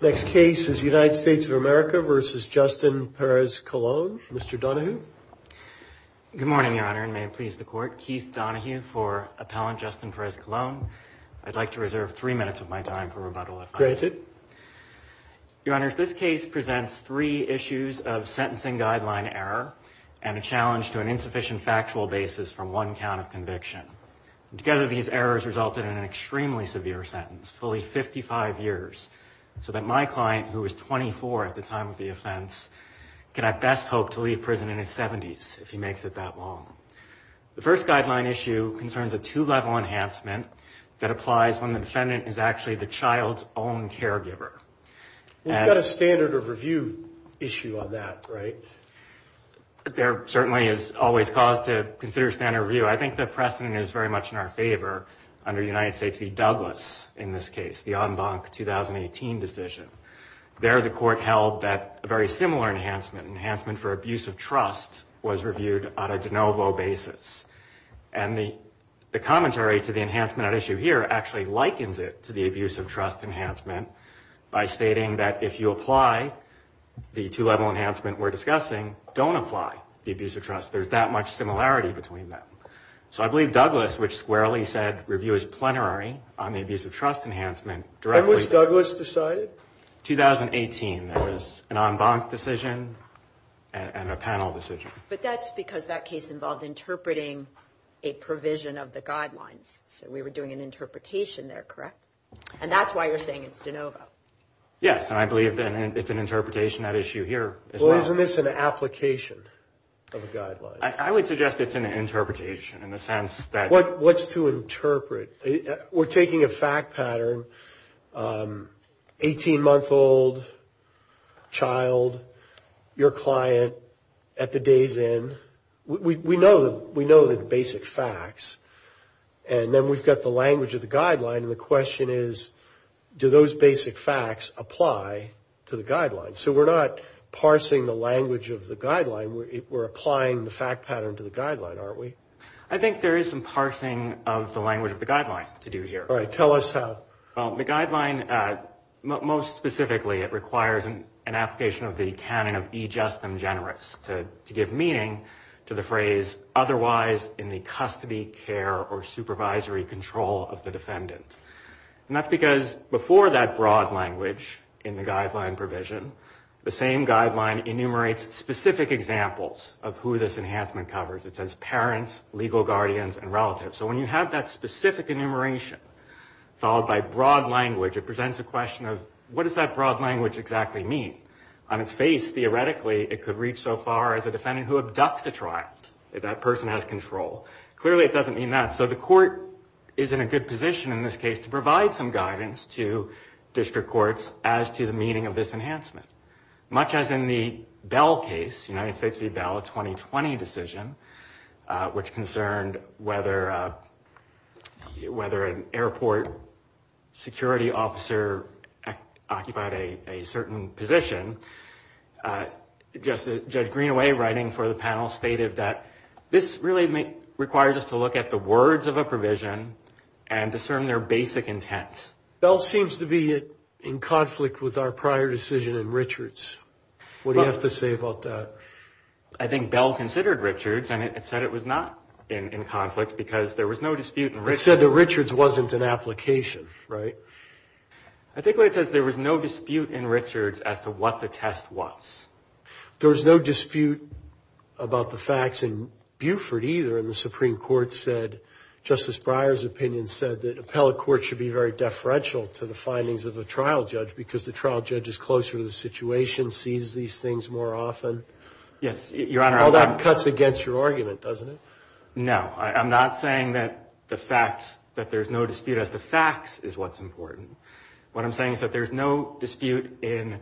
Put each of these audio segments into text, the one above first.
Next case is United States of America v. Justyn Perez-Colon. Mr. Donahue. Good morning, Your Honor, and may it please the Court. Keith Donahue for Appellant Justyn Perez-Colon. I'd like to reserve three minutes of my time for rebuttal, if I may. Granted. Your Honor, this case presents three issues of sentencing guideline error and a challenge to an insufficient factual basis from one count of conviction. Together, these errors resulted in an extremely severe sentence, fully 55 years. So that my client, who was 24 at the time of the offense, can I best hope to leave prison in his 70s if he makes it that long. The first guideline issue concerns a two-level enhancement that applies when the defendant is actually the child's own caregiver. We've got a standard of review issue on that, right? There certainly is always cause to consider standard review. I think the precedent is very much in our favor under United States v. Douglas in this case, the en banc 2018 decision. There the Court held that a very similar enhancement, enhancement for abuse of trust, was reviewed on a de novo basis. And the commentary to the enhancement at issue here actually likens it to the abuse of trust enhancement by stating that if you apply the two-level enhancement we're discussing, don't apply the abuse of trust. There's that much similarity between them. So I believe Douglas, which squarely said review is plenary on the abuse of trust enhancement. When was Douglas decided? 2018. It was an en banc decision and a panel decision. But that's because that case involved interpreting a provision of the guidelines. So we were doing an interpretation there, correct? And that's why you're saying it's de novo. Yes, and I believe it's an interpretation at issue here as well. Well, isn't this an application of a guideline? I would suggest it's an interpretation in the sense that... What's to interpret? We're taking a fact pattern, 18-month-old child, your client at the day's end. We know the basic facts. And then we've got the language of the guideline. And the question is, do those basic facts apply to the guidelines? So we're not parsing the language of the guideline. We're applying the fact pattern to the guideline, aren't we? I think there is some parsing of the language of the guideline to do here. All right, tell us how. Well, the guideline, most specifically, it requires an application of the canon of be just and generous to give meaning to the phrase otherwise in the custody, care, or supervisory control of the defendant. And that's because before that broad language in the guideline provision, the same guideline enumerates specific examples of who this enhancement covers. It says parents, legal guardians, and relatives. So when you have that specific enumeration followed by broad language, it presents a question of what does that broad language exactly mean? On its face, theoretically, it could reach so far as a defendant who abducts a child. That person has control. Clearly it doesn't mean that. So the court is in a good position in this case to provide some guidance to district courts as to the meaning of this enhancement. Much as in the Bell case, United States v. Bell, a 2020 decision, which concerned whether an airport security officer occupied a certain position, Judge Greenaway writing for the panel stated that this really requires us to look at the words of a provision and discern their basic intent. Bell seems to be in conflict with our prior decision in Richards. What do you have to say about that? I think Bell considered Richards, and it said it was not in conflict because there was no dispute in Richards. It said that Richards wasn't an application, right? I think what it says, there was no dispute in Richards as to what the test was. There was no dispute about the facts in Buford either, and the Supreme Court said, Justice Breyer's opinion said, that appellate courts should be very deferential to the findings of a trial judge because the trial judge is closer to the situation, sees these things more often. Yes, Your Honor. All that cuts against your argument, doesn't it? No. I'm not saying that there's no dispute as to facts is what's important. What I'm saying is that there's no dispute in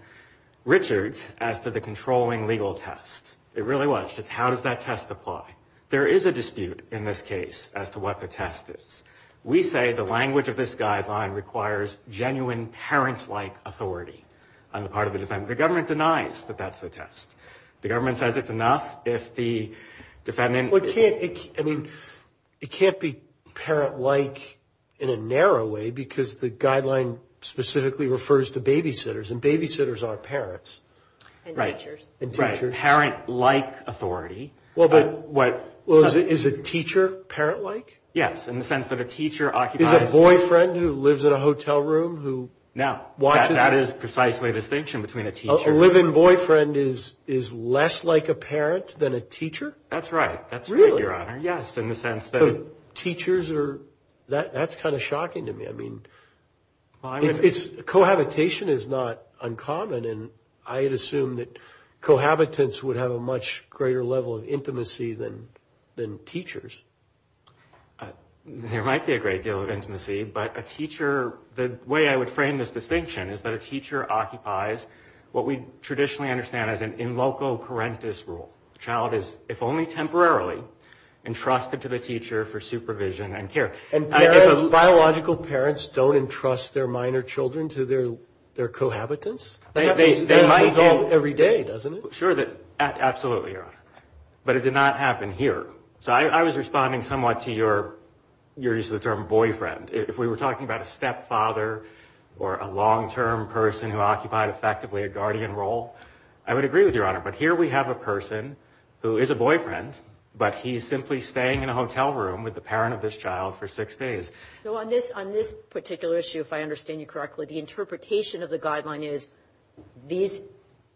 Richards as to the controlling legal test. It really was just how does that test apply. There is a dispute in this case as to what the test is. We say the language of this guideline requires genuine parent-like authority on the part of the defendant. The government denies that that's the test. The government says it's enough if the defendant- Well, it can't be parent-like in a narrow way because the guideline specifically refers to babysitters, and babysitters are parents. And teachers. Right. Parent-like authority. Well, is a teacher parent-like? Yes, in the sense that a teacher occupies- Is a boyfriend who lives in a hotel room who watches- No. That is precisely the distinction between a teacher- A living boyfriend is less like a parent than a teacher? That's right. That's right, Your Honor. Really? Yes, in the sense that- Teachers are- that's kind of shocking to me. Cohabitation is not uncommon, and I had assumed that cohabitants would have a much greater level of intimacy than teachers. There might be a great deal of intimacy, but a teacher- the way I would frame this distinction is that a teacher occupies what we traditionally understand as an in loco parentis role. The child is, if only temporarily, entrusted to the teacher for supervision and care. And biological parents don't entrust their minor children to their cohabitants? They might do. That's resolved every day, doesn't it? Sure. Absolutely, Your Honor. But it did not happen here. So I was responding somewhat to your use of the term boyfriend. If we were talking about a stepfather or a long-term person who occupied effectively a guardian role, I would agree with Your Honor. But here we have a person who is a boyfriend, but he's simply staying in a hotel room with the parent of this child for six days. So on this particular issue, if I understand you correctly, the interpretation of the guideline is these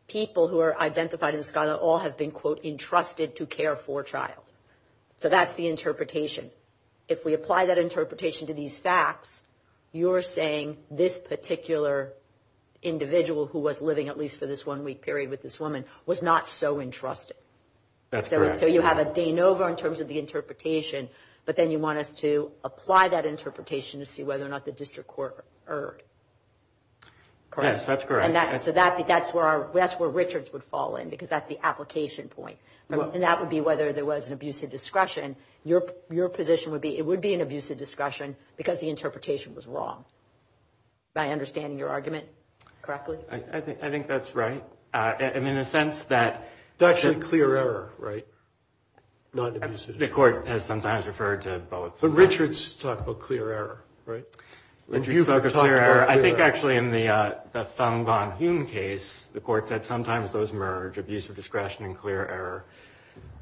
people who are identified in this guideline all have been, quote, entrusted to care for a child. So that's the interpretation. If we apply that interpretation to these facts, you're saying this particular individual who was living at least for this one week period with this woman was not so entrusted. That's correct. So you have a de novo in terms of the interpretation, but then you want us to apply that interpretation to see whether or not the district court erred. Yes, that's correct. So that's where Richards would fall in because that's the application point. And that would be whether there was an abuse of discretion. Your position would be it would be an abuse of discretion because the interpretation was wrong. Am I understanding your argument correctly? I think that's right. I mean, in the sense that the court has sometimes referred to both. But Richards talked about clear error, right? Richards talked about clear error. I think actually in the Thuong Van Huynh case, the court said sometimes those merge, abuse of discretion and clear error.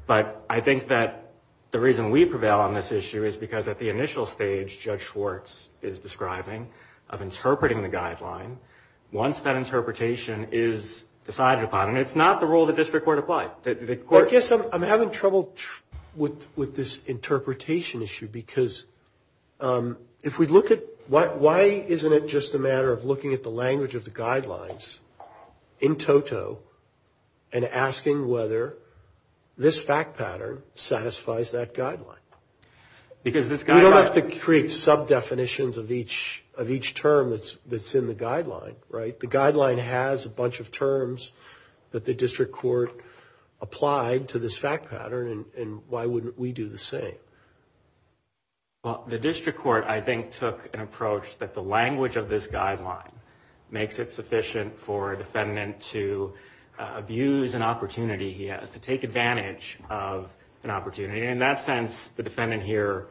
But I think that the reason we prevail on this issue is because at the initial stage, Judge Schwartz is describing of interpreting the guideline. Once that interpretation is decided upon, and it's not the rule the district court applied. I guess I'm having trouble with this interpretation issue because if we look at why isn't it just a matter of looking at the language of the guidelines in toto and asking whether this fact pattern satisfies that guideline. Because this guideline. You don't have to create sub-definitions of each term that's in the guideline, right? The guideline has a bunch of terms that the district court applied to this fact pattern. And why wouldn't we do the same? Well, the district court, I think, took an approach that the language of this guideline makes it sufficient for a defendant to abuse an opportunity he has. To take advantage of an opportunity. In that sense, the defendant here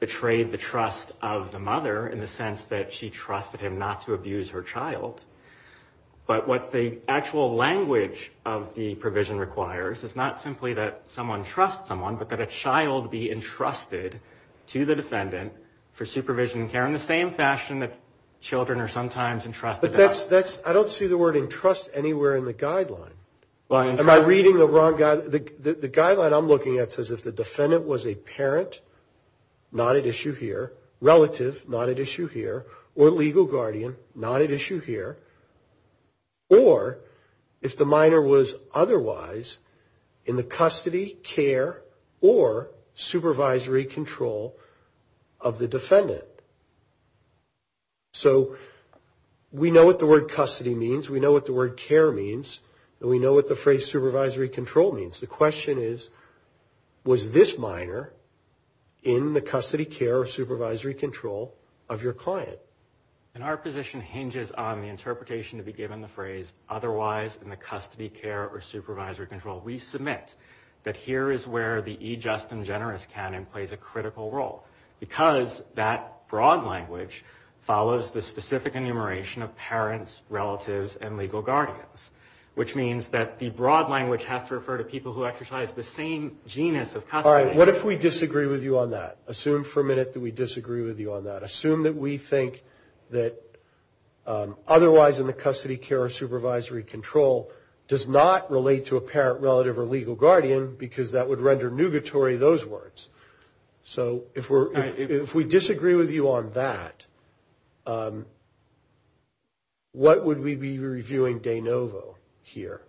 betrayed the trust of the mother in the sense that she trusted him not to abuse her child. But what the actual language of the provision requires is not simply that someone trusts someone, but that a child be entrusted to the defendant for supervision and care in the same fashion that children are sometimes entrusted. But that's, I don't see the word entrust anywhere in the guideline. Am I reading the wrong, the guideline I'm looking at says if the defendant was a parent, not at issue here, relative, not at issue here, or legal guardian, not at issue here, or if the minor was otherwise in the custody, care, or supervisory control of the defendant. So we know what the word custody means, we know what the word care means, and we know what the phrase supervisory control means. The question is, was this minor in the custody, care, or supervisory control of your client? And our position hinges on the interpretation to be given the phrase otherwise in the custody, care, or supervisory control. We submit that here is where the e-just and generous canon plays a critical role, because that broad language follows the specific enumeration of parents, relatives, and legal guardians, which means that the broad language has to refer to people who exercise the same genus of custody. All right, what if we disagree with you on that? Assume for a minute that we disagree with you on that. Assume that we think that otherwise in the custody, care, or supervisory control does not relate to a parent, relative, or legal guardian, because that would render nugatory those words. So if we disagree with you on that, what would we be reviewing de novo here?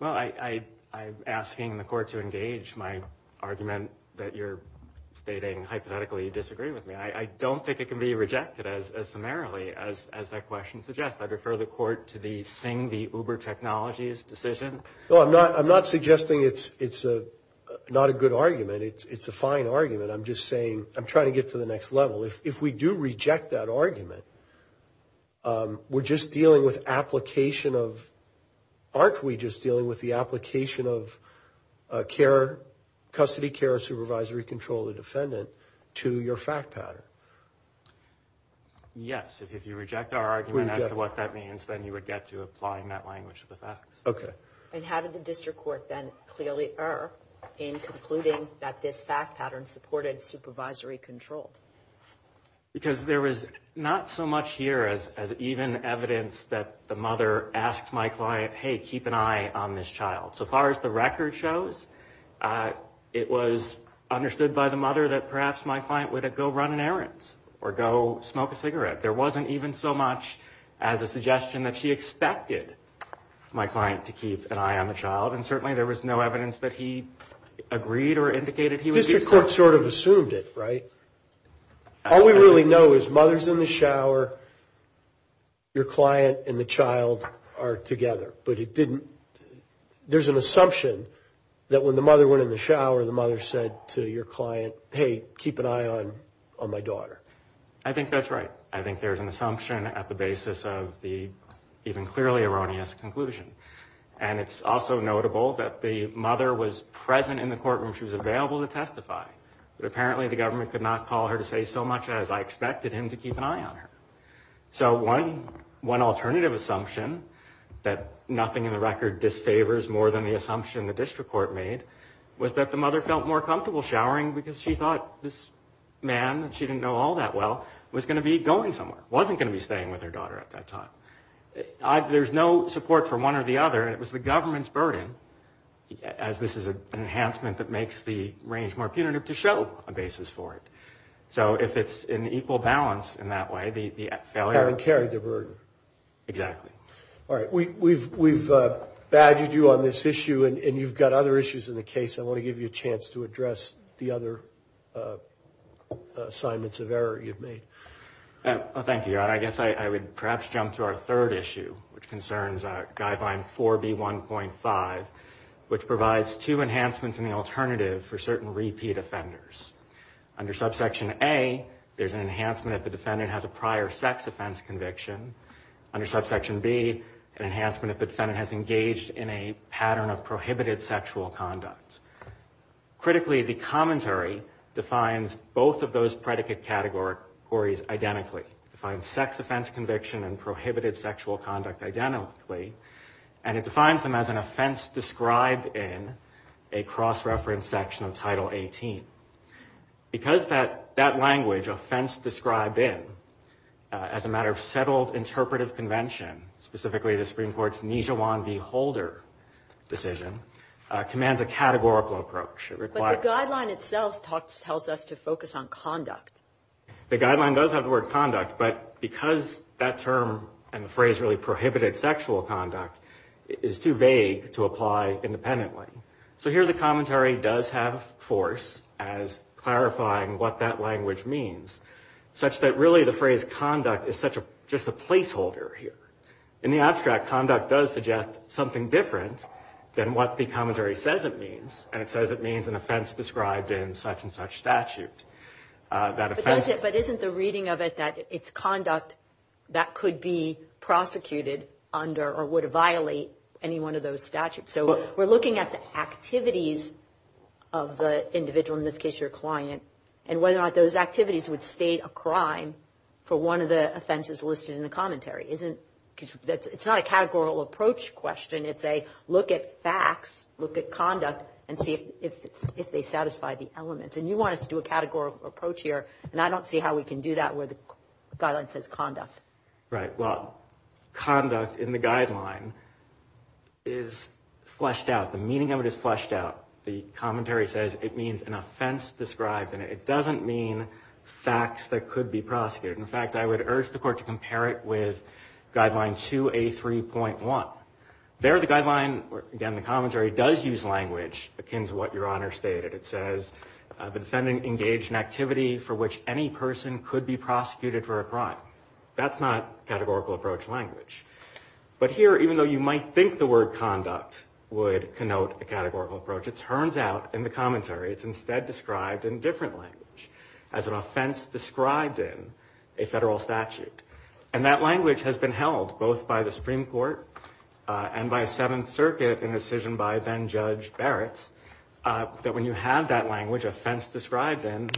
Well, I'm asking the court to engage my argument that you're stating hypothetically you disagree with me. I don't think it can be rejected as summarily as that question suggests. I'd refer the court to the Singh v. Uber Technologies decision. No, I'm not suggesting it's not a good argument. It's a fine argument. I'm just saying I'm trying to get to the next level. If we do reject that argument, we're just dealing with application of – Yes, if you reject our argument as to what that means, then you would get to applying that language of the facts. Okay. And how did the district court then clearly err in concluding that this fact pattern supported supervisory control? Because there was not so much here as even evidence that the mother asked my client, hey, keep an eye on this child. So far as the record shows, it was understood by the mother that perhaps my client would go run an errand or go smoke a cigarette. There wasn't even so much as a suggestion that she expected my client to keep an eye on the child. And certainly there was no evidence that he agreed or indicated he would do so. The district court sort of assumed it, right? All we really know is mother's in the shower, your client and the child are together. But it didn't – there's an assumption that when the mother went in the shower, the mother said to your client, hey, keep an eye on my daughter. I think that's right. I think there's an assumption at the basis of the even clearly erroneous conclusion. And it's also notable that the mother was present in the courtroom. She was available to testify. But apparently the government could not call her to say so much as I expected him to keep an eye on her. So one alternative assumption that nothing in the record disfavors more than the assumption the district court made was that the mother felt more comfortable showering because she thought this man, and she didn't know all that well, was going to be going somewhere, wasn't going to be staying with her daughter at that time. There's no support for one or the other, and it was the government's burden, as this is an enhancement that makes the range more punitive, to show a basis for it. So if it's an equal balance in that way, the failure of the burden. Exactly. All right. We've badgered you on this issue, and you've got other issues in the case. I want to give you a chance to address the other assignments of error you've made. Thank you. I guess I would perhaps jump to our third issue, which concerns guideline 4B1.5, which provides two enhancements in the alternative for certain repeat offenders. Under subsection A, there's an enhancement if the defendant has a prior sex offense conviction. Under subsection B, an enhancement if the defendant has engaged in a pattern of prohibited sexual conduct. Critically, the commentary defines both of those predicate categories identically. It defines sex offense conviction and prohibited sexual conduct identically, and it defines them as an offense described in a cross-reference section of Title 18. Because that language, offense described in, as a matter of settled interpretive convention, specifically the Supreme Court's Nijawan v. Holder decision, commands a categorical approach. But the guideline itself tells us to focus on conduct. The guideline does have the word conduct, but because that term and the phrase really prohibited sexual conduct is too vague to apply independently. So here the commentary does have force as clarifying what that language means, such that really the phrase conduct is just a placeholder here. In the abstract, conduct does suggest something different than what the commentary says it means, and it says it means an offense described in such and such statute. But isn't the reading of it that it's conduct that could be prosecuted under or would violate any one of those statutes? So we're looking at the activities of the individual, in this case your client, and whether or not those activities would state a crime for one of the offenses listed in the commentary. It's not a categorical approach question. It's a look at facts, look at conduct, and see if they satisfy the elements. And you want us to do a categorical approach here, and I don't see how we can do that where the guideline says conduct. Right. Well, conduct in the guideline is fleshed out. The meaning of it is fleshed out. The commentary says it means an offense described in it. It doesn't mean facts that could be prosecuted. In fact, I would urge the court to compare it with Guideline 2A3.1. There the guideline, again the commentary, does use language akin to what Your Honor stated. It says the defendant engaged in activity for which any person could be prosecuted for a crime. That's not categorical approach language. But here, even though you might think the word conduct would connote a categorical approach, it turns out in the commentary it's instead described in a different language, as an offense described in a federal statute. And that language has been held both by the Supreme Court and by Seventh Circuit in a decision by then-Judge Barrett, that when you have that language, offense described in,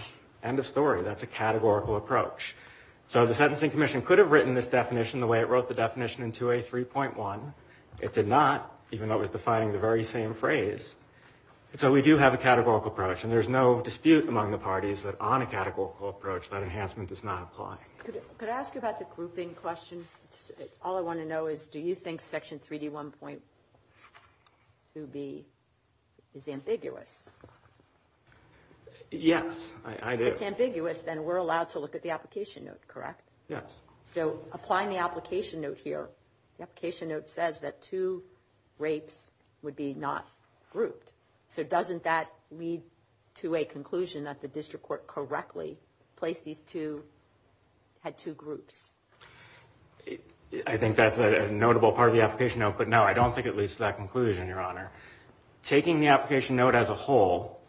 end of story. That's a categorical approach. So the Sentencing Commission could have written this definition the way it wrote the definition in 2A3.1. It did not, even though it was defining the very same phrase. So we do have a categorical approach, and there's no dispute among the parties that on a categorical approach that enhancement does not apply. Could I ask you about the grouping question? All I want to know is, do you think Section 3D1.2B is ambiguous? Yes, I do. If it's ambiguous, then we're allowed to look at the application note, correct? Yes. So applying the application note here, the application note says that two rapes would be not grouped. So doesn't that lead to a conclusion that the district court correctly placed these two, had two groups? I think that's a notable part of the application note, but no, I don't think it leads to that conclusion, Your Honor. Taking the application note as a whole,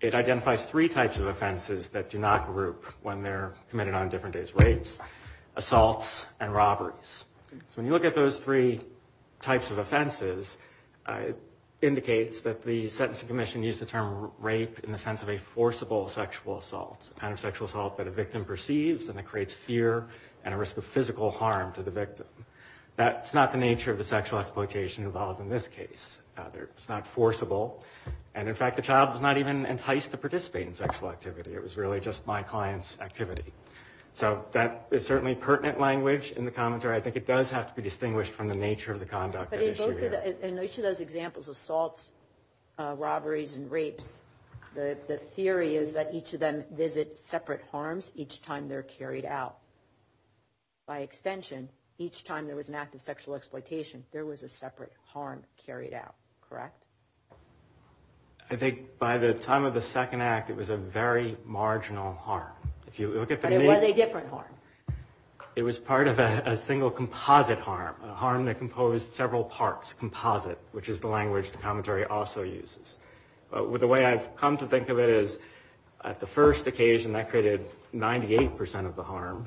it identifies three types of offenses that do not group when they're committed on different days. Rapes, assaults, and robberies. So when you look at those three types of offenses, it indicates that the Sentencing Commission used the term rape in the sense of a forcible sexual assault. It's a kind of sexual assault that a victim perceives and it creates fear and a risk of physical harm to the victim. That's not the nature of the sexual exploitation involved in this case. It's not forcible. And in fact, the child was not even enticed to participate in sexual activity. It was really just my client's activity. So that is certainly pertinent language in the commentary. I think it does have to be distinguished from the nature of the conduct at issue here. In each of those examples, assaults, robberies, and rapes, the theory is that each of them visit separate harms each time they're carried out. By extension, each time there was an act of sexual exploitation, there was a separate harm carried out. Correct? I think by the time of the second act, it was a very marginal harm. Were they a different harm? It was part of a single composite harm. A harm that composed several parts, composite, which is the language the commentary also uses. The way I've come to think of it is, at the first occasion, that created 98% of the harm.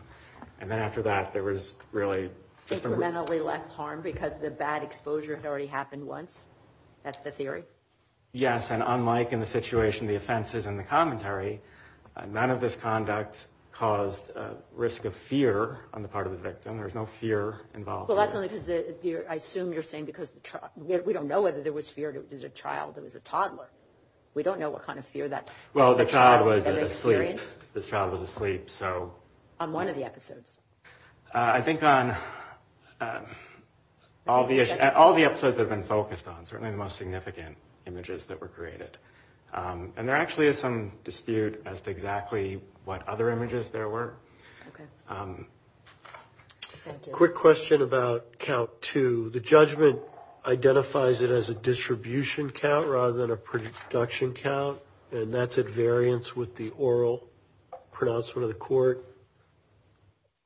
And then after that, there was really just a... Incrementally less harm because the bad exposure had already happened once? That's the theory? Yes, and unlike in the situation the offenses in the commentary, none of this conduct caused risk of fear on the part of the victim. There was no fear involved. Well, that's only because, I assume you're saying, because we don't know whether there was fear, it was a child, it was a toddler. We don't know what kind of fear that... Well, the child was asleep. The child was asleep, so... On one of the episodes? I think on all the episodes that have been focused on, certainly the most significant images that were created. And there actually is some dispute as to exactly what other images there were. Okay. Thank you. Quick question about count two. The judgment identifies it as a distribution count rather than a production count, and that's at variance with the oral pronouncement of the court.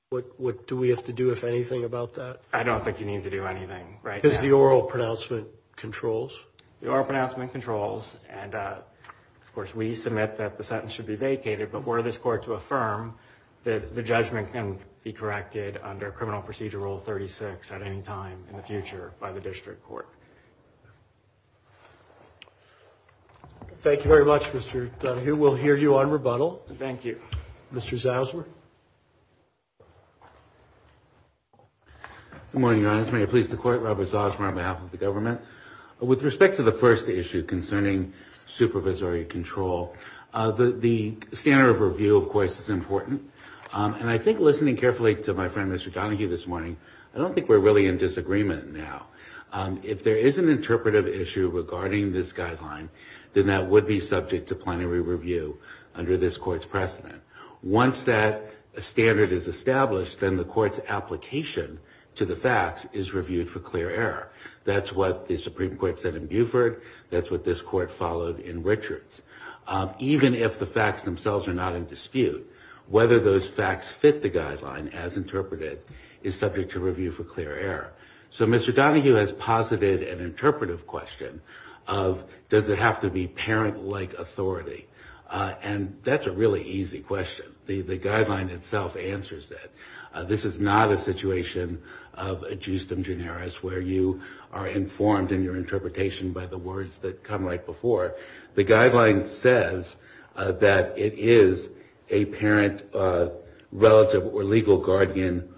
What do we have to do, if anything, about that? I don't think you need to do anything right now. Because the oral pronouncement controls? The oral pronouncement controls. And, of course, we submit that the sentence should be vacated. But were this court to affirm that the judgment can be corrected under Criminal Procedure Rule 36 at any time in the future by the district court? Thank you very much, Mr. Dunahue. We'll hear you on rebuttal. Thank you. Mr. Zausmer? Good morning, Your Honor. May it please the Court, Robert Zausmer on behalf of the government. With respect to the first issue concerning supervisory control, the standard of review, of course, is important. And I think listening carefully to my friend, Mr. Dunahue, this morning, I don't think we're really in disagreement now. If there is an interpretive issue regarding this guideline, then that would be subject to plenary review under this court's precedent. Once that standard is established, then the court's application to the facts is reviewed for clear error. That's what the Supreme Court said in Buford. That's what this court followed in Richards. Even if the facts themselves are not in dispute, whether those facts fit the guideline as interpreted is subject to review for clear error. So Mr. Dunahue has posited an interpretive question of does it have to be parent-like authority? And that's a really easy question. The guideline itself answers that. This is not a situation of a justum generis where you are informed in your interpretation by the words that come right before. The guideline says that it is a parent relative or legal guardian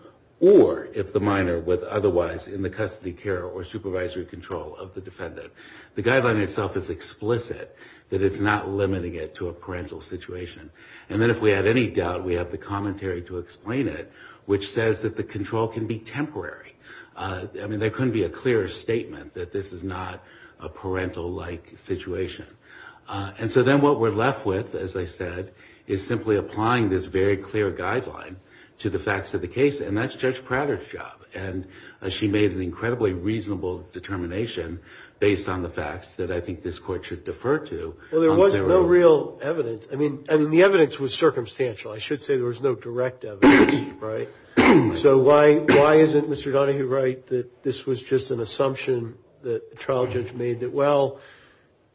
or if the minor was otherwise in the custody care or supervisory control of the defendant. The guideline itself is explicit that it's not limiting it to a parental situation. And then if we have any doubt, we have the commentary to explain it, which says that the control can be temporary. I mean, there couldn't be a clearer statement that this is not a parental-like situation. And so then what we're left with, as I said, is simply applying this very clear guideline to the facts of the case, and that's Judge Prater's job. And she made an incredibly reasonable determination based on the facts that I think this court should defer to. Well, there was no real evidence. I mean, the evidence was circumstantial. I should say there was no direct evidence, right? So why isn't Mr. Dunahue right that this was just an assumption that the trial judge made that, well,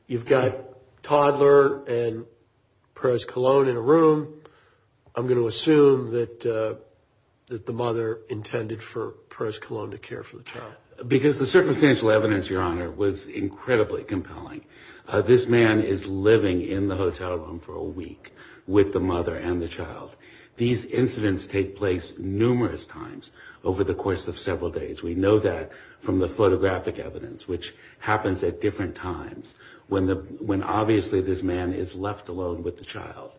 you've got Toddler and Perez-Colón in a room. I'm going to assume that the mother intended for Perez-Colón to care for the child. Because the circumstantial evidence, Your Honor, was incredibly compelling. This man is living in the hotel room for a week with the mother and the child. These incidents take place numerous times over the course of several days. We know that from the photographic evidence, which happens at different times when obviously this man is left alone with the child.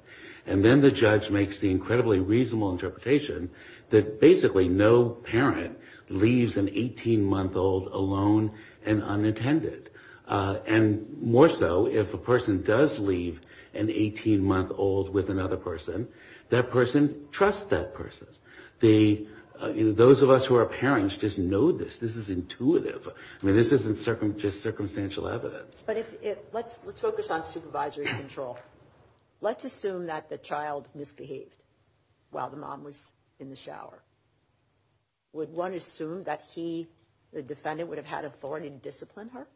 And then the judge makes the incredibly reasonable interpretation that basically no parent leaves an 18-month-old alone and unintended. And more so, if a person does leave an 18-month-old with another person, that person trusts that person. Those of us who are parents just know this. This is intuitive. I mean, this isn't just circumstantial evidence. But let's focus on supervisory control. Let's assume that the child misbehaved while the mom was in the shower. Would one assume that he, the defendant, would have had authority to discipline her?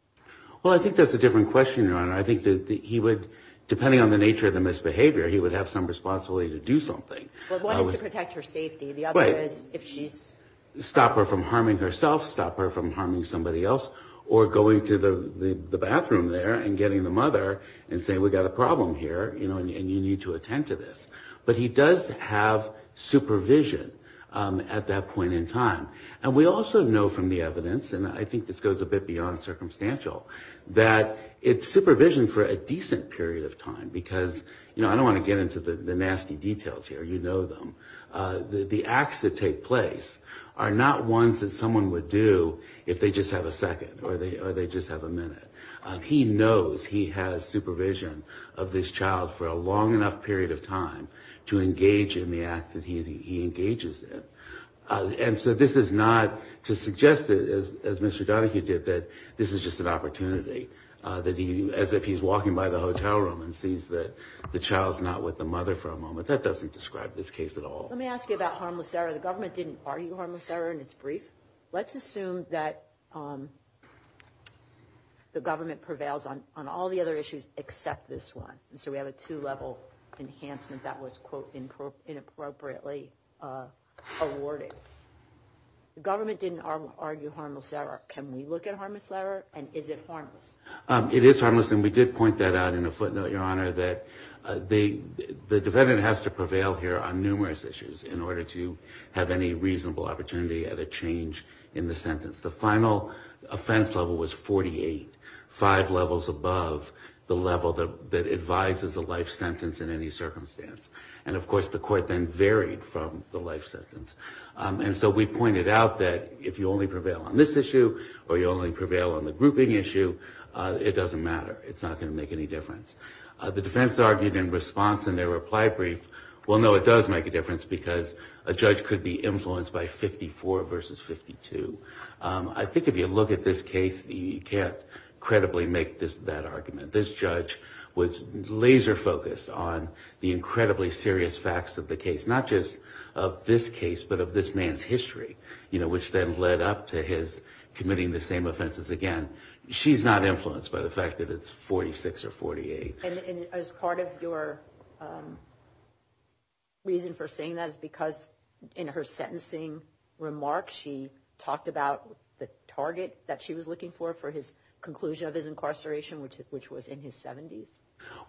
Well, I think that's a different question, Your Honor. I think that he would, depending on the nature of the misbehavior, he would have some responsibility to do something. But one is to protect her safety. The other is if she's... Stop her from harming herself, stop her from harming somebody else, or going to the bathroom there and getting the mother and saying, we've got a problem here, you know, and you need to attend to this. But he does have supervision at that point in time. And we also know from the evidence, and I think this goes a bit beyond circumstantial, that it's supervision for a decent period of time. Because, you know, I don't want to get into the nasty details here. You know them. The acts that take place are not ones that someone would do if they just have a second or they just have a minute. He knows he has supervision of this child for a long enough period of time to engage in the act that he engages in. And so this is not to suggest, as Mr. Donahue did, that this is just an opportunity, as if he's walking by the hotel room and sees that the child's not with the mother for a moment. That doesn't describe this case at all. Let me ask you about harmless error. The government didn't argue harmless error in its brief. Let's assume that the government prevails on all the other issues except this one. And so we have a two-level enhancement that was, quote, inappropriately awarded. The government didn't argue harmless error. Can we look at harmless error, and is it harmless? The defendant has to prevail here on numerous issues in order to have any reasonable opportunity at a change in the sentence. The final offense level was 48, five levels above the level that advises a life sentence in any circumstance. And, of course, the court then varied from the life sentence. And so we pointed out that if you only prevail on this issue or you only prevail on the grouping issue, it doesn't matter. It's not going to make any difference. The defense argued in response in their reply brief, well, no, it does make a difference because a judge could be influenced by 54 versus 52. I think if you look at this case, you can't credibly make that argument. This judge was laser-focused on the incredibly serious facts of the case, not just of this case but of this man's history, which then led up to his committing the same offenses again. She's not influenced by the fact that it's 46 or 48. And as part of your reason for saying that is because in her sentencing remark, she talked about the target that she was looking for for his conclusion of his incarceration, which was in his 70s.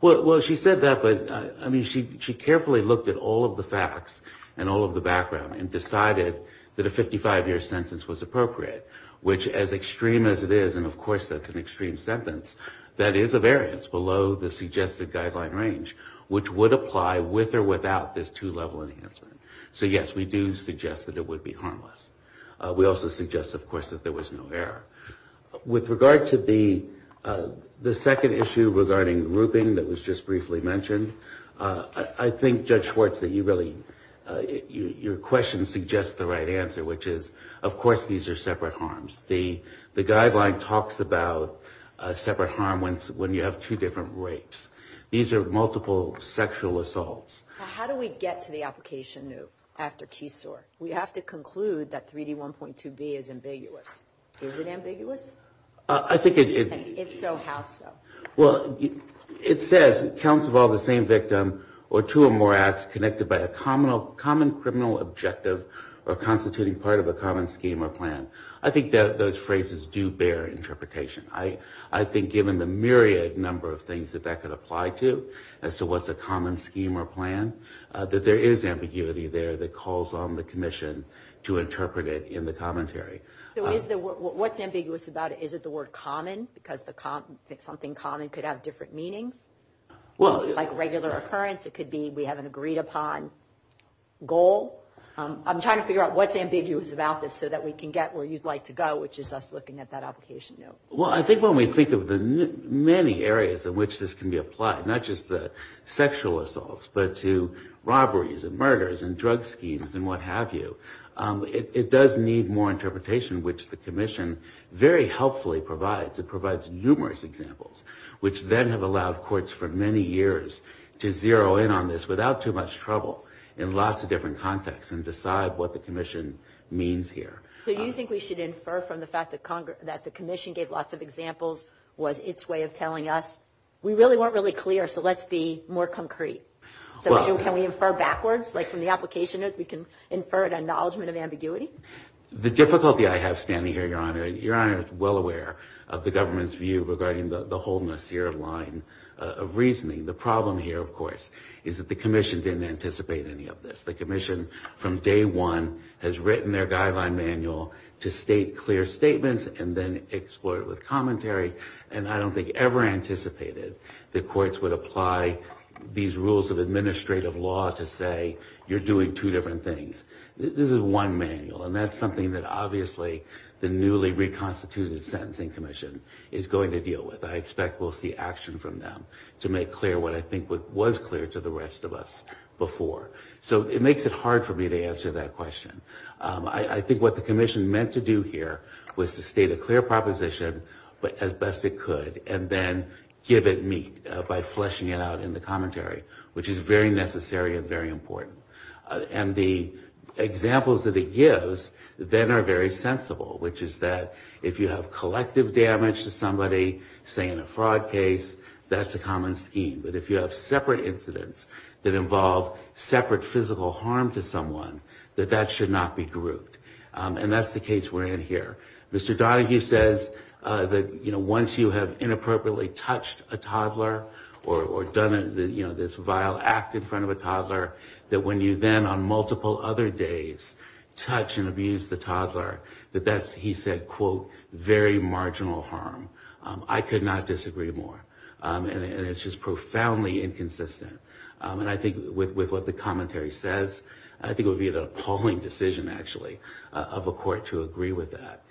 Well, she said that, but, I mean, she carefully looked at all of the facts and all of the background and decided that a 55-year sentence was appropriate, which, as extreme as it is, and, of course, that's an extreme sentence, that is a variance below the suggested guideline range, which would apply with or without this two-level enhancement. So, yes, we do suggest that it would be harmless. We also suggest, of course, that there was no error. With regard to the second issue regarding grouping that was just briefly mentioned, I think, Judge Schwartz, that you really, your question suggests the right answer, which is, of course, these are separate harms. The guideline talks about a separate harm when you have two different rapes. These are multiple sexual assaults. How do we get to the application after Keesor? We have to conclude that 3D1.2B is ambiguous. Is it ambiguous? I think it is. If so, how so? Well, it says, counts of all the same victim or two or more acts connected by a common criminal objective or constituting part of a common scheme or plan. I think those phrases do bear interpretation. I think, given the myriad number of things that that could apply to, as to what's a common scheme or plan, that there is ambiguity there that calls on the commission to interpret it in the commentary. So what's ambiguous about it? Is it the word common, because something common could have different meanings? Like regular occurrence, it could be we have an agreed upon goal. I'm trying to figure out what's ambiguous about this so that we can get where you'd like to go, which is us looking at that application note. Well, I think when we think of the many areas in which this can be applied, not just to sexual assaults, but to robberies and murders and drug schemes and what have you, it does need more interpretation, which the commission very helpfully provides. It provides numerous examples, which then have allowed courts for many years to zero in on this without too much trouble in lots of different contexts and decide what the commission means here. So you think we should infer from the fact that the commission gave lots of examples was its way of telling us, we really weren't really clear, so let's be more concrete. So can we infer backwards, like from the application note, we can infer an acknowledgement of ambiguity? The difficulty I have standing here, Your Honor, is well aware of the government's view regarding the wholeness here of line of reasoning. The problem here, of course, is that the commission didn't anticipate any of this. The commission from day one has written their guideline manual to state clear statements and then explore it with commentary, and I don't think ever anticipated that courts would apply these rules of administrative law to say, you're doing two different things. This is one manual, and that's something that, obviously, the newly reconstituted Sentencing Commission is going to deal with. I expect we'll see action from them to make clear what I think was clear to the rest of us before. So it makes it hard for me to answer that question. I think what the commission meant to do here was to state a clear proposition as best it could and then give it meat by fleshing it out in the commentary, which is very necessary and very important. And the examples that it gives then are very sensible, which is that if you have collective damage to somebody, say in a fraud case, that's a common scheme. But if you have separate incidents that involve separate physical harm to someone, that that should not be grouped. And that's the case we're in here. Mr. Donoghue says that once you have inappropriately touched a toddler or done this vile act in front of a toddler, that when you then, on multiple other days, touch and abuse the toddler, that that's, he said, quote, very marginal harm. I could not disagree more. And it's just profoundly inconsistent. And I think with what the commentary says, I think it would be an appalling decision, actually, of a court to agree with that.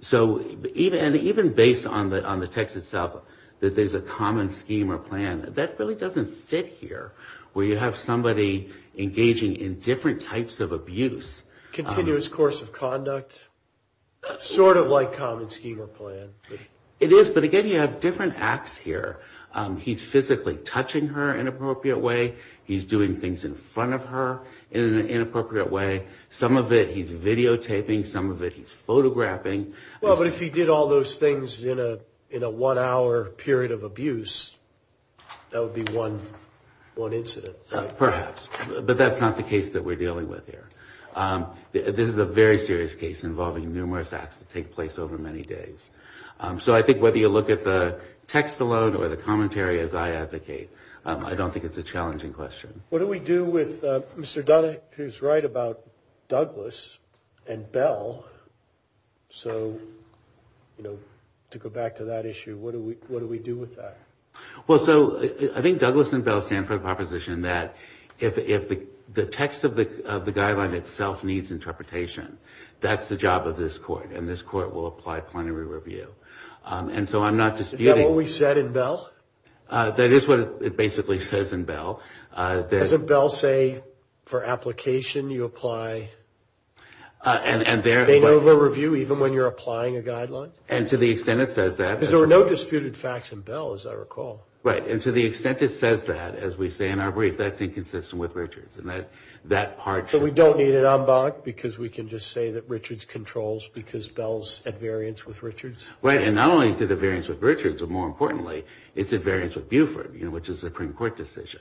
So even based on the text itself, that there's a common scheme or plan, that really doesn't fit here, where you have somebody engaging in different types of abuse. Continuous course of conduct, sort of like common scheme or plan. It is, but again, you have different acts here. He's physically touching her in an appropriate way. He's doing things in front of her in an inappropriate way. Some of it he's videotaping. Some of it he's photographing. Well, but if he did all those things in a one-hour period of abuse, that would be one incident. Perhaps, but that's not the case that we're dealing with here. This is a very serious case involving numerous acts that take place over many days. So I think whether you look at the text alone or the commentary, as I advocate, I don't think it's a challenging question. What do we do with Mr. Dunn, who's right about Douglas and Bell? So, you know, to go back to that issue, what do we do with that? Well, so I think Douglas and Bell stand for the proposition that if the text of the guideline itself needs interpretation, that's the job of this court, and this court will apply plenary review. And so I'm not disputing. Is that what we said in Bell? That is what it basically says in Bell. Doesn't Bell say for application you apply plenary review even when you're applying a guideline? And to the extent it says that. Because there were no disputed facts in Bell, as I recall. Right. And to the extent it says that, as we say in our brief, that's inconsistent with Richards. So we don't need an en banc because we can just say that Richards controls because Bell's at variance with Richards? Right. And not only is it at variance with Richards, but more importantly, it's at variance with Buford, you know, which is a Supreme Court decision.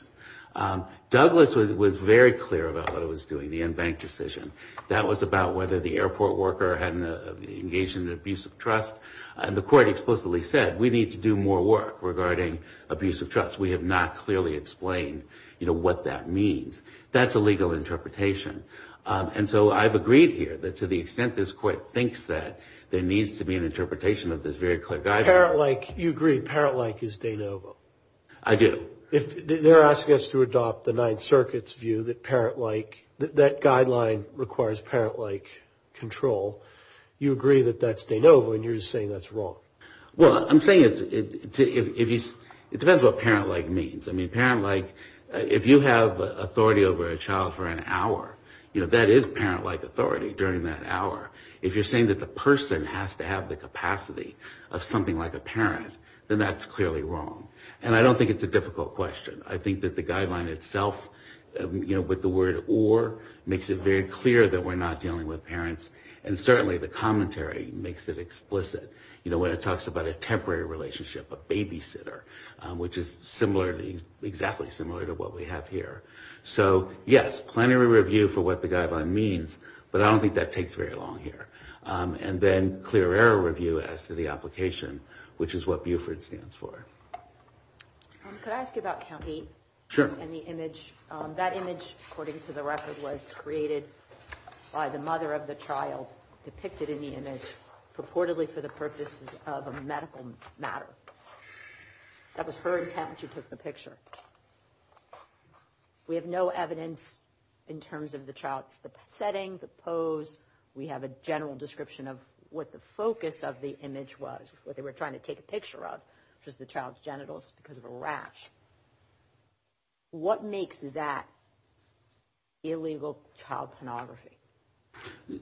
Douglas was very clear about what it was doing, the en banc decision. That was about whether the airport worker had engaged in an abuse of trust. And the court explicitly said, we need to do more work regarding abuse of trust. We have not clearly explained, you know, what that means. That's a legal interpretation. And so I've agreed here that to the extent this court thinks that there needs to be an interpretation of this very clear guideline. Parent-like, you agree, parent-like is de novo. I do. They're asking us to adopt the Ninth Circuit's view that parent-like, that guideline requires parent-like control. You agree that that's de novo and you're saying that's wrong. Well, I'm saying it depends what parent-like means. I mean, parent-like, if you have authority over a child for an hour, you know, that is parent-like authority during that hour. If you're saying that the person has to have the capacity of something like a parent, then that's clearly wrong. And I don't think it's a difficult question. I think that the guideline itself, you know, with the word or makes it very clear that we're not dealing with parents. And certainly the commentary makes it explicit. You know, when it talks about a temporary relationship, a babysitter, which is exactly similar to what we have here. So, yes, plenary review for what the guideline means, but I don't think that takes very long here. And then clear error review as to the application, which is what Buford stands for. Could I ask you about County? Sure. That image, according to the record, was created by the mother of the child depicted in the image purportedly for the purposes of a medical matter. That was her intent when she took the picture. We have no evidence in terms of the child's setting, the pose. We have a general description of what the focus of the image was, what they were trying to take a picture of, which was the child's genitals because of a rash. What makes that illegal child pornography?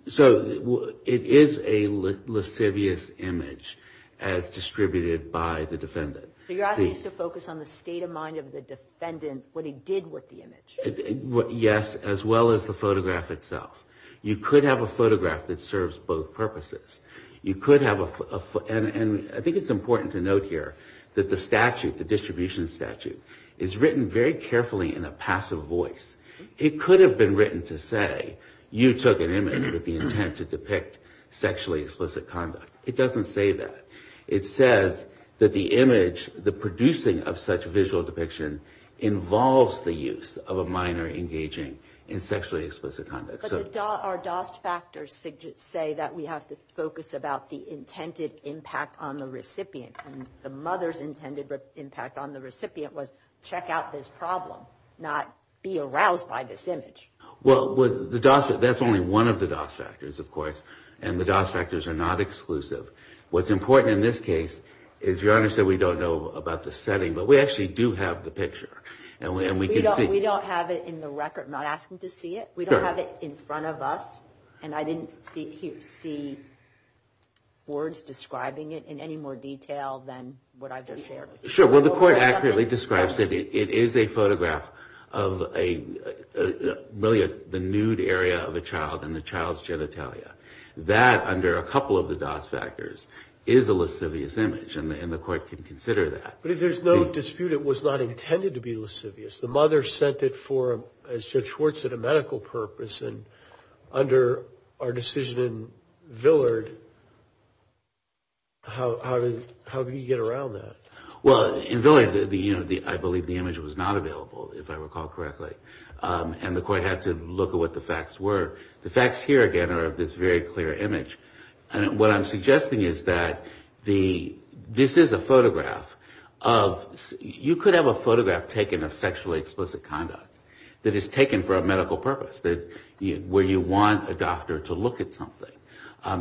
So it is a lascivious image as distributed by the defendant. So you're asking us to focus on the state of mind of the defendant, what he did with the image? Yes, as well as the photograph itself. You could have a photograph that serves both purposes. And I think it's important to note here that the statute, the distribution statute, is written very carefully in a passive voice. It could have been written to say, you took an image with the intent to depict sexually explicit conduct. It doesn't say that. It says that the image, the producing of such visual depiction involves the use of a minor engaging in sexually explicit conduct. But our DOS factors say that we have to focus about the intended impact on the recipient. And the mother's intended impact on the recipient was check out this problem, not be aroused by this image. Well, the DOS, that's only one of the DOS factors, of course. And the DOS factors are not exclusive. What's important in this case is, Your Honor said we don't know about the setting, but we actually do have the picture. And we can see. We don't have it in the record. I'm not asking to see it. We don't have it in front of us. And I didn't see words describing it in any more detail than what I just shared with you. Sure. Well, the Court accurately describes it. It is a photograph of really the nude area of a child and the child's genitalia. That, under a couple of the DOS factors, is a lascivious image. And the Court can consider that. But if there's no dispute, it was not intended to be lascivious. The mother sent it for, as Judge Schwartz said, a medical purpose. And under our decision in Villard, how can you get around that? Well, in Villard, I believe the image was not available, if I recall correctly. And the Court had to look at what the facts were. The facts here, again, are of this very clear image. What I'm suggesting is that this is a photograph of... You could have a photograph taken of sexually explicit conduct that is taken for a medical purpose, where you want a doctor to look at something,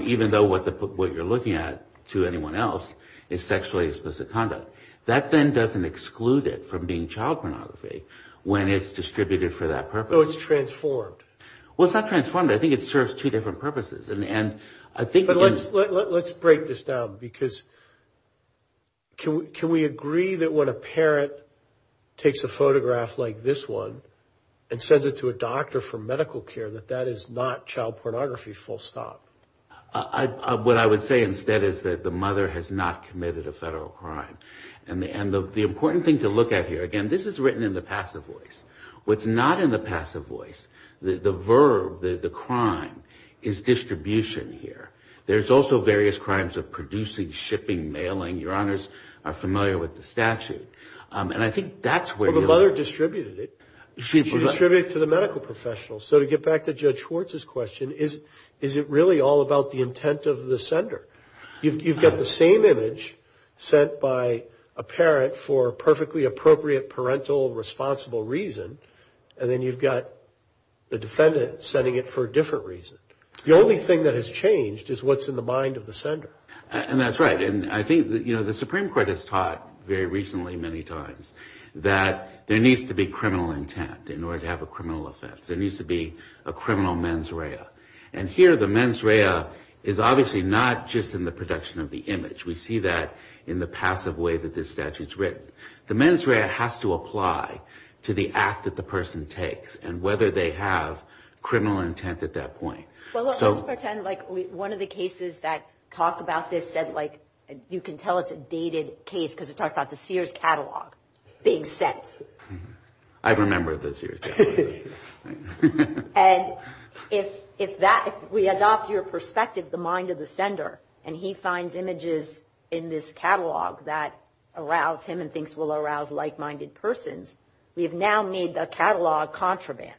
even though what you're looking at, to anyone else, is sexually explicit conduct. That then doesn't exclude it from being child pornography when it's distributed for that purpose. So it's transformed. Well, it's not transformed. I think it serves two different purposes. And I think... But let's break this down. Because can we agree that when a parent takes a photograph like this one and sends it to a doctor for medical care, that that is not child pornography, full stop? What I would say instead is that the mother has not committed a federal crime. And the important thing to look at here, again, this is written in the passive voice. What's not in the passive voice, the verb, the crime, is distribution here. There's also various crimes of producing, shipping, mailing. Your Honors are familiar with the statute. And I think that's where... Well, the mother distributed it. She distributed it to the medical professionals. So to get back to Judge Schwartz's question, is it really all about the intent of the sender? You've got the same image sent by a parent for perfectly appropriate parental responsible reason. And then you've got the defendant sending it for a different reason. The only thing that has changed is what's in the mind of the sender. And that's right. And I think, you know, the Supreme Court has taught very recently many times that there needs to be criminal intent in order to have a criminal offense. There needs to be a criminal mens rea. And here the mens rea is obviously not just in the production of the image. We see that in the passive way that this statute's written. The mens rea has to apply to the act that the person takes and whether they have criminal intent at that point. Well, let's pretend like one of the cases that talk about this said, like, you can tell it's a dated case because it talks about the Sears catalog being sent. I remember the Sears catalog. And if we adopt your perspective, the mind of the sender, and he finds images in this catalog that arouse him and thinks will arouse like-minded persons, we have now made the catalog contraband.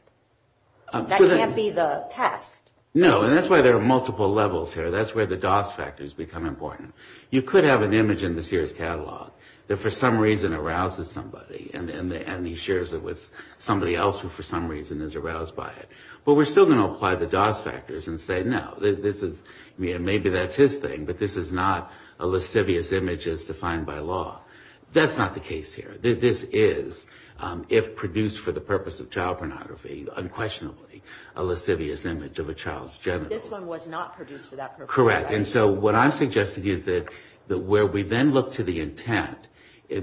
That can't be the test. No, and that's why there are multiple levels here. That's where the dos factors become important. You could have an image in the Sears catalog that for some reason arouses somebody and he shares it with somebody else who for some reason is aroused by it. But we're still going to apply the dos factors and say, no, maybe that's his thing, but this is not a lascivious image as defined by law. That's not the case here. This is, if produced for the purpose of child pornography, unquestionably, a lascivious image of a child's genitals. This one was not produced for that purpose. Correct. And so what I'm suggesting is that where we then look to the intent,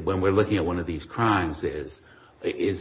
when we're looking at one of these crimes, is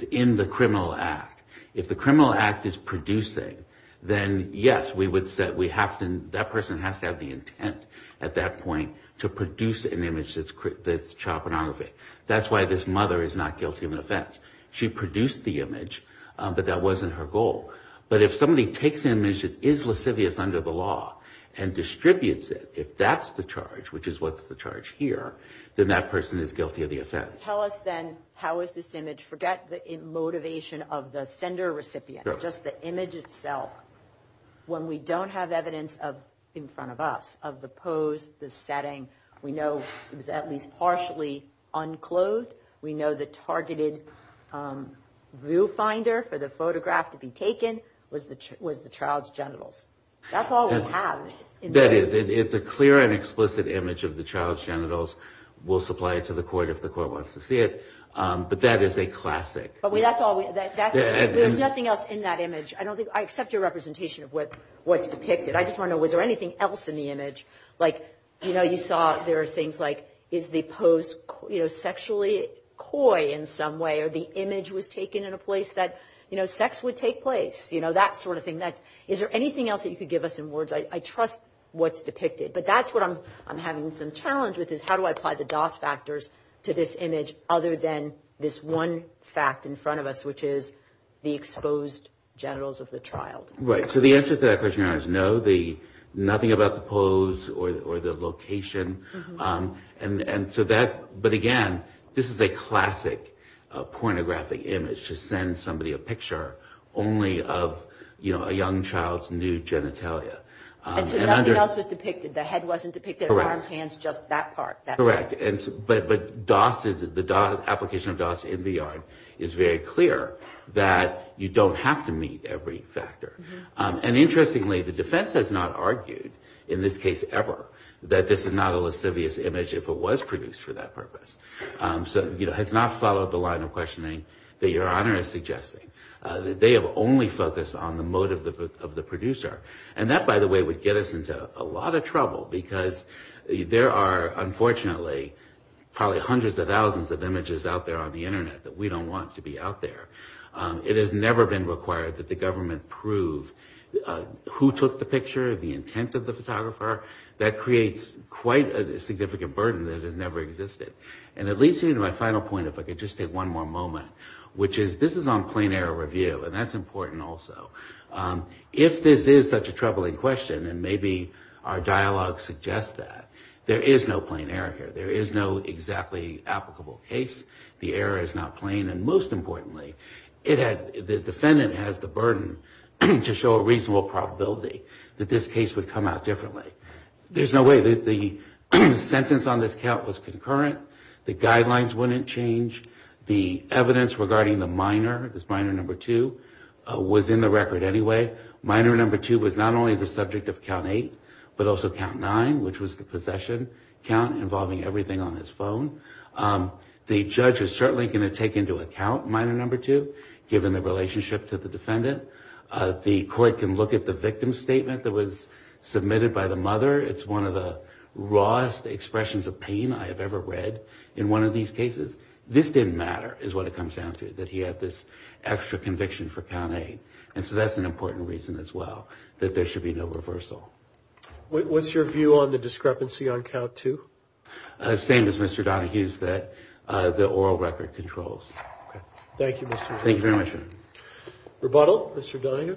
in the criminal act. If the criminal act is producing, then yes, we would say that person has to have the intent at that point to produce an image that's child pornography. That's why this mother is not guilty of an offense. She produced the image, but that wasn't her goal. But if somebody takes an image that is lascivious under the law and distributes it, if that's the charge, which is what's the charge here, then that person is guilty of the offense. Tell us, then, how is this image? Forget the motivation of the sender-recipient, just the image itself. When we don't have evidence in front of us of the pose, the setting, we know it was at least partially unclothed. We know the targeted viewfinder for the photograph to be taken was the child's genitals. That's all we have. That is. It's a clear and explicit image of the child's genitals. We'll supply it to the court if the court wants to see it, but that is a classic. There's nothing else in that image. I accept your representation of what's depicted. I just want to know, was there anything else in the image? Like, you know, you saw there are things like, is the pose sexually coy in some way, or the image was taken in a place that sex would take place, you know, that sort of thing. Is there anything else that you could give us in words? I trust what's depicted, but that's what I'm having some challenge with, is how do I apply the DOS factors to this image other than this one fact in front of us, which is the exposed genitals of the child. Right, so the answer to that question is no. Nothing about the pose or the location. But again, this is a classic pornographic image to send somebody a picture only of, you know, a young child's new genitalia. And so nothing else was depicted. The head wasn't depicted, arms, hands, just that part. Correct. But DOS, the application of DOS in VR is very clear that you don't have to meet every factor. And interestingly, the defense has not argued in this case ever that this is not a lascivious image if it was produced for that purpose. So, you know, it has not followed the line of questioning that Your Honor is suggesting. They have only focused on the motive of the producer. And that, by the way, would get us into a lot of trouble because there are, unfortunately, probably hundreds of thousands of images out there on the Internet that we don't want to be out there. It has never been required that the government prove who took the picture, the intent of the photographer. That creates quite a significant burden that has never existed. And it leads me to my final point, if I could just take one more moment, which is this is on plain error review, and that's important also. If this is such a troubling question, and maybe our dialogue suggests that, there is no plain error here. There is no exactly applicable case. The error is not plain. And most importantly, the defendant has the burden to show a reasonable probability that this case would come out differently. There's no way. The sentence on this count was concurrent. The guidelines wouldn't change. The evidence regarding the minor, this minor number two, was in the record anyway. Minor number two was not only the subject of count eight, but also count nine, which was the possession count involving everything on his phone. The judge is certainly going to take into account minor number two, given the relationship to the defendant. The court can look at the victim's statement that was submitted by the mother. It's one of the rawest expressions of pain I have ever read in one of these cases. This didn't matter, is what it comes down to, that he had this extra conviction for count eight. And so that's an important reason as well, that there should be no reversal. What's your view on the discrepancy on count two? Same as Mr. Donohue's, that the oral record controls. Thank you, Mr. Donohue. Thank you very much. Rebuttal, Mr. Donohue.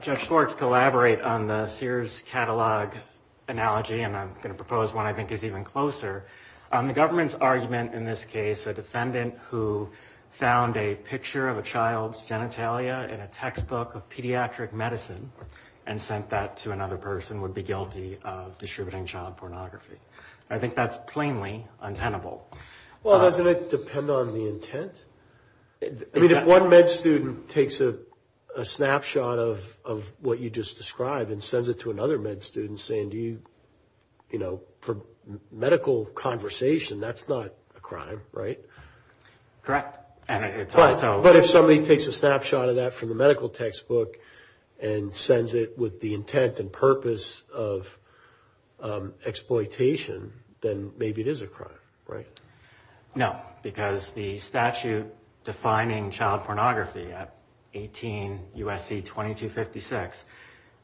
Judge Schwartz, collaborate on the Sears catalog analogy, and I'm going to propose one I think is even closer. The government's argument in this case, a defendant who found a picture of a child's genitalia in a textbook of pediatric medicine and sent that to another person would be guilty of distributing child pornography. I think that's plainly untenable. Well, doesn't it? Doesn't it depend on the intent? I mean, if one med student takes a snapshot of what you just described and sends it to another med student saying, you know, for medical conversation, that's not a crime, right? Correct. But if somebody takes a snapshot of that from the medical textbook and sends it with the intent and purpose of exploitation, then maybe it is a crime, right? No, because the statute defining child pornography at 18 U.S.C. 2256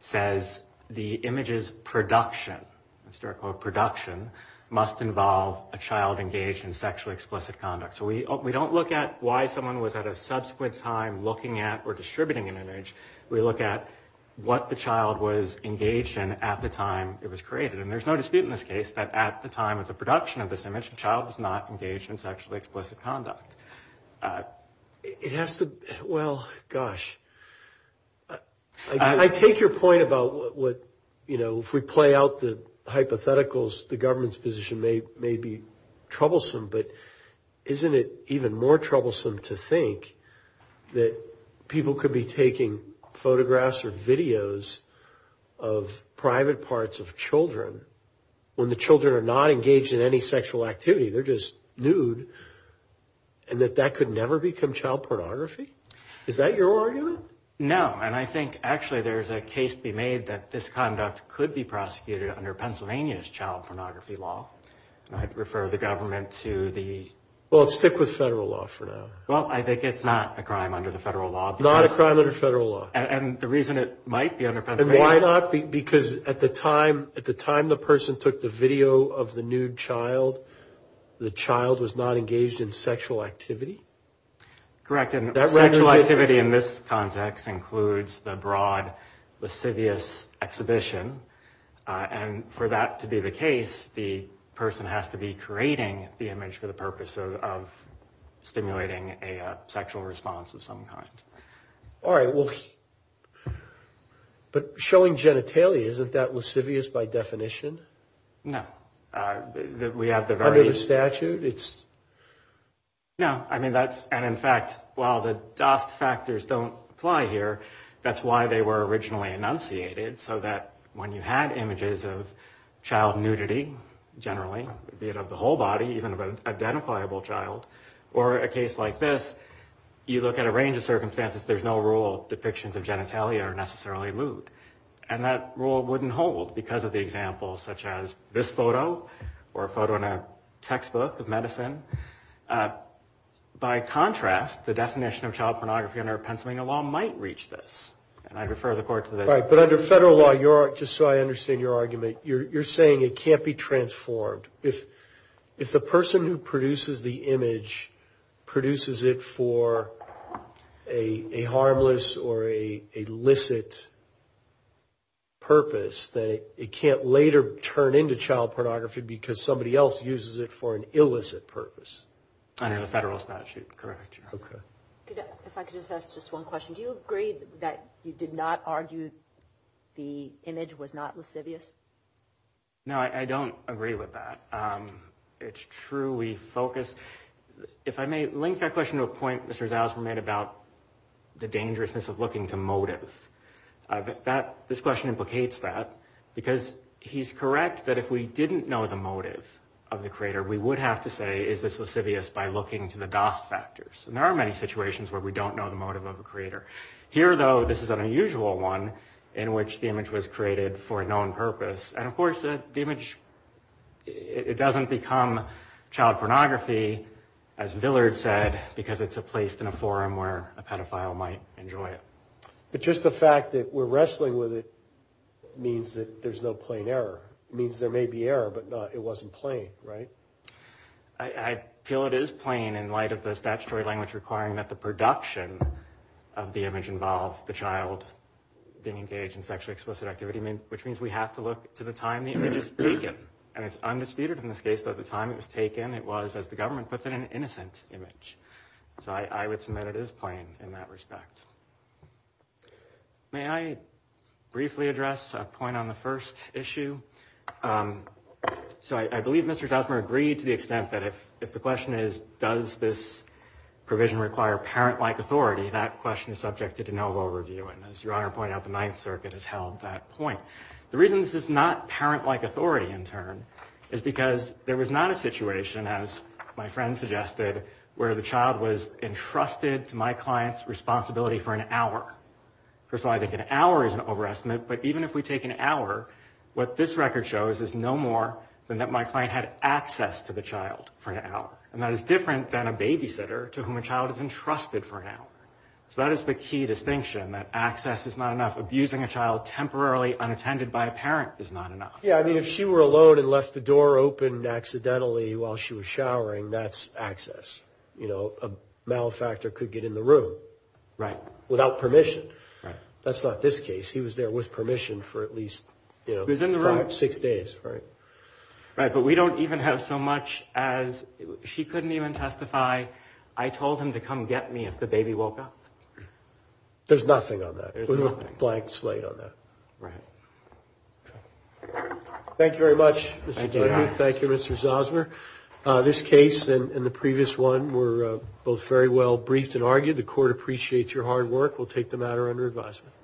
says the image's production, let's start with production, must involve a child engaged in sexually explicit conduct. So we don't look at why someone was at a subsequent time looking at or distributing an image. We look at what the child was engaged in at the time it was created. And there's no dispute in this case that at the time of the production of this image, the child was not engaged in sexually explicit conduct. It has to, well, gosh. I take your point about what, you know, if we play out the hypotheticals, the government's position may be troublesome, but isn't it even more troublesome to think that people could be taking photographs or videos of private parts of children when the children are not engaged in any sexual activity, they're just nude, and that that could never become child pornography? Is that your argument? No, and I think actually there's a case to be made that this conduct could be prosecuted under Pennsylvania's child pornography law. I'd refer the government to the... Well, stick with federal law for now. Well, I think it's not a crime under the federal law. Not a crime under federal law. And the reason it might be under Pennsylvania... And why not? Because at the time the person took the video of the nude child, the child was not engaged in sexual activity? Correct, and sexual activity in this context includes the broad lascivious exhibition. And for that to be the case, the person has to be creating the image for the purpose of stimulating a sexual response of some kind. All right, well, but showing genitalia, isn't that lascivious by definition? No, we have the very... Under the statute, it's... No, I mean that's, and in fact, while the dust factors don't apply here, that's why they were originally enunciated, so that when you had images of child nudity, generally, be it of the whole body, even of an identifiable child, or a case like this, you look at a range of circumstances, there's no rule depictions of genitalia are necessarily lewd. And that rule wouldn't hold because of the examples such as this photo, or a photo in a textbook of medicine. By contrast, the definition of child pornography under Pennsylvania law might reach this. And I refer the court to the... All right, but under federal law, just so I understand your argument, you're saying it can't be transformed. If the person who produces the image produces it for a harmless or a licit purpose, that it can't later turn into child pornography because somebody else uses it for an illicit purpose. Under the federal statute, correct, Your Honor. Okay. If I could just ask just one question, do you agree that you did not argue the image was not lascivious? No, I don't agree with that. It's true, we focus... If I may link that question to a point Mr. Zausman made about the dangerousness of looking to motive. This question implicates that, because he's correct that if we didn't know the motive of the creator, we would have to say, is this lascivious by looking to the Dost factors. And there are many situations where we don't know the motive of a creator. Here, though, this is an unusual one in which the image was created for a known purpose. And of course, the image, it doesn't become child pornography, as Villard said, because it's placed in a forum where a pedophile might enjoy it. But just the fact that we're wrestling with it means that there's no plain error. It means there may be error, but it wasn't plain, right? I feel it is plain in light of the statutory language requiring that the production of the image involve the child being engaged in sexually explicit activity, which means we have to look to the time the image is taken. And it's undisputed in this case that the time it was taken, it was, as the government puts it, an innocent image. So I would submit it is plain in that respect. May I briefly address a point on the first issue? So I believe Mr. Zausman agreed to the extent that if the question is, does this provision require parent-like authority, that question is subject to de novo review. And as Your Honor pointed out, the Ninth Circuit has held that point. The reason this is not parent-like authority, in turn, is because there was not a situation, as my friend suggested, where the child was entrusted to my client's responsibility for an hour. First of all, I think an hour is an overestimate, but even if we take an hour, what this record shows is no more than that my client had access to the child for an hour. And that is different than a babysitter to whom a child is entrusted for an hour. So that is the key distinction, that access is not enough. Abusing a child temporarily unattended by a parent is not enough. Yeah, I mean, if she were alone and left the door open accidentally while she was showering, that's access. You know, a malefactor could get in the room. Right. Without permission. Right. That's not this case. He was there with permission for at least, you know, six days. Right. But we don't even have so much as she couldn't even testify. I told him to come get me if the baby woke up. There's nothing on that. There's nothing. There's no blank slate on that. Right. Okay. Thank you very much. Thank you. Thank you, Mr. Zosmer. This case and the previous one were both very well briefed and argued. The court appreciates your hard work. We'll take the matter under advisement.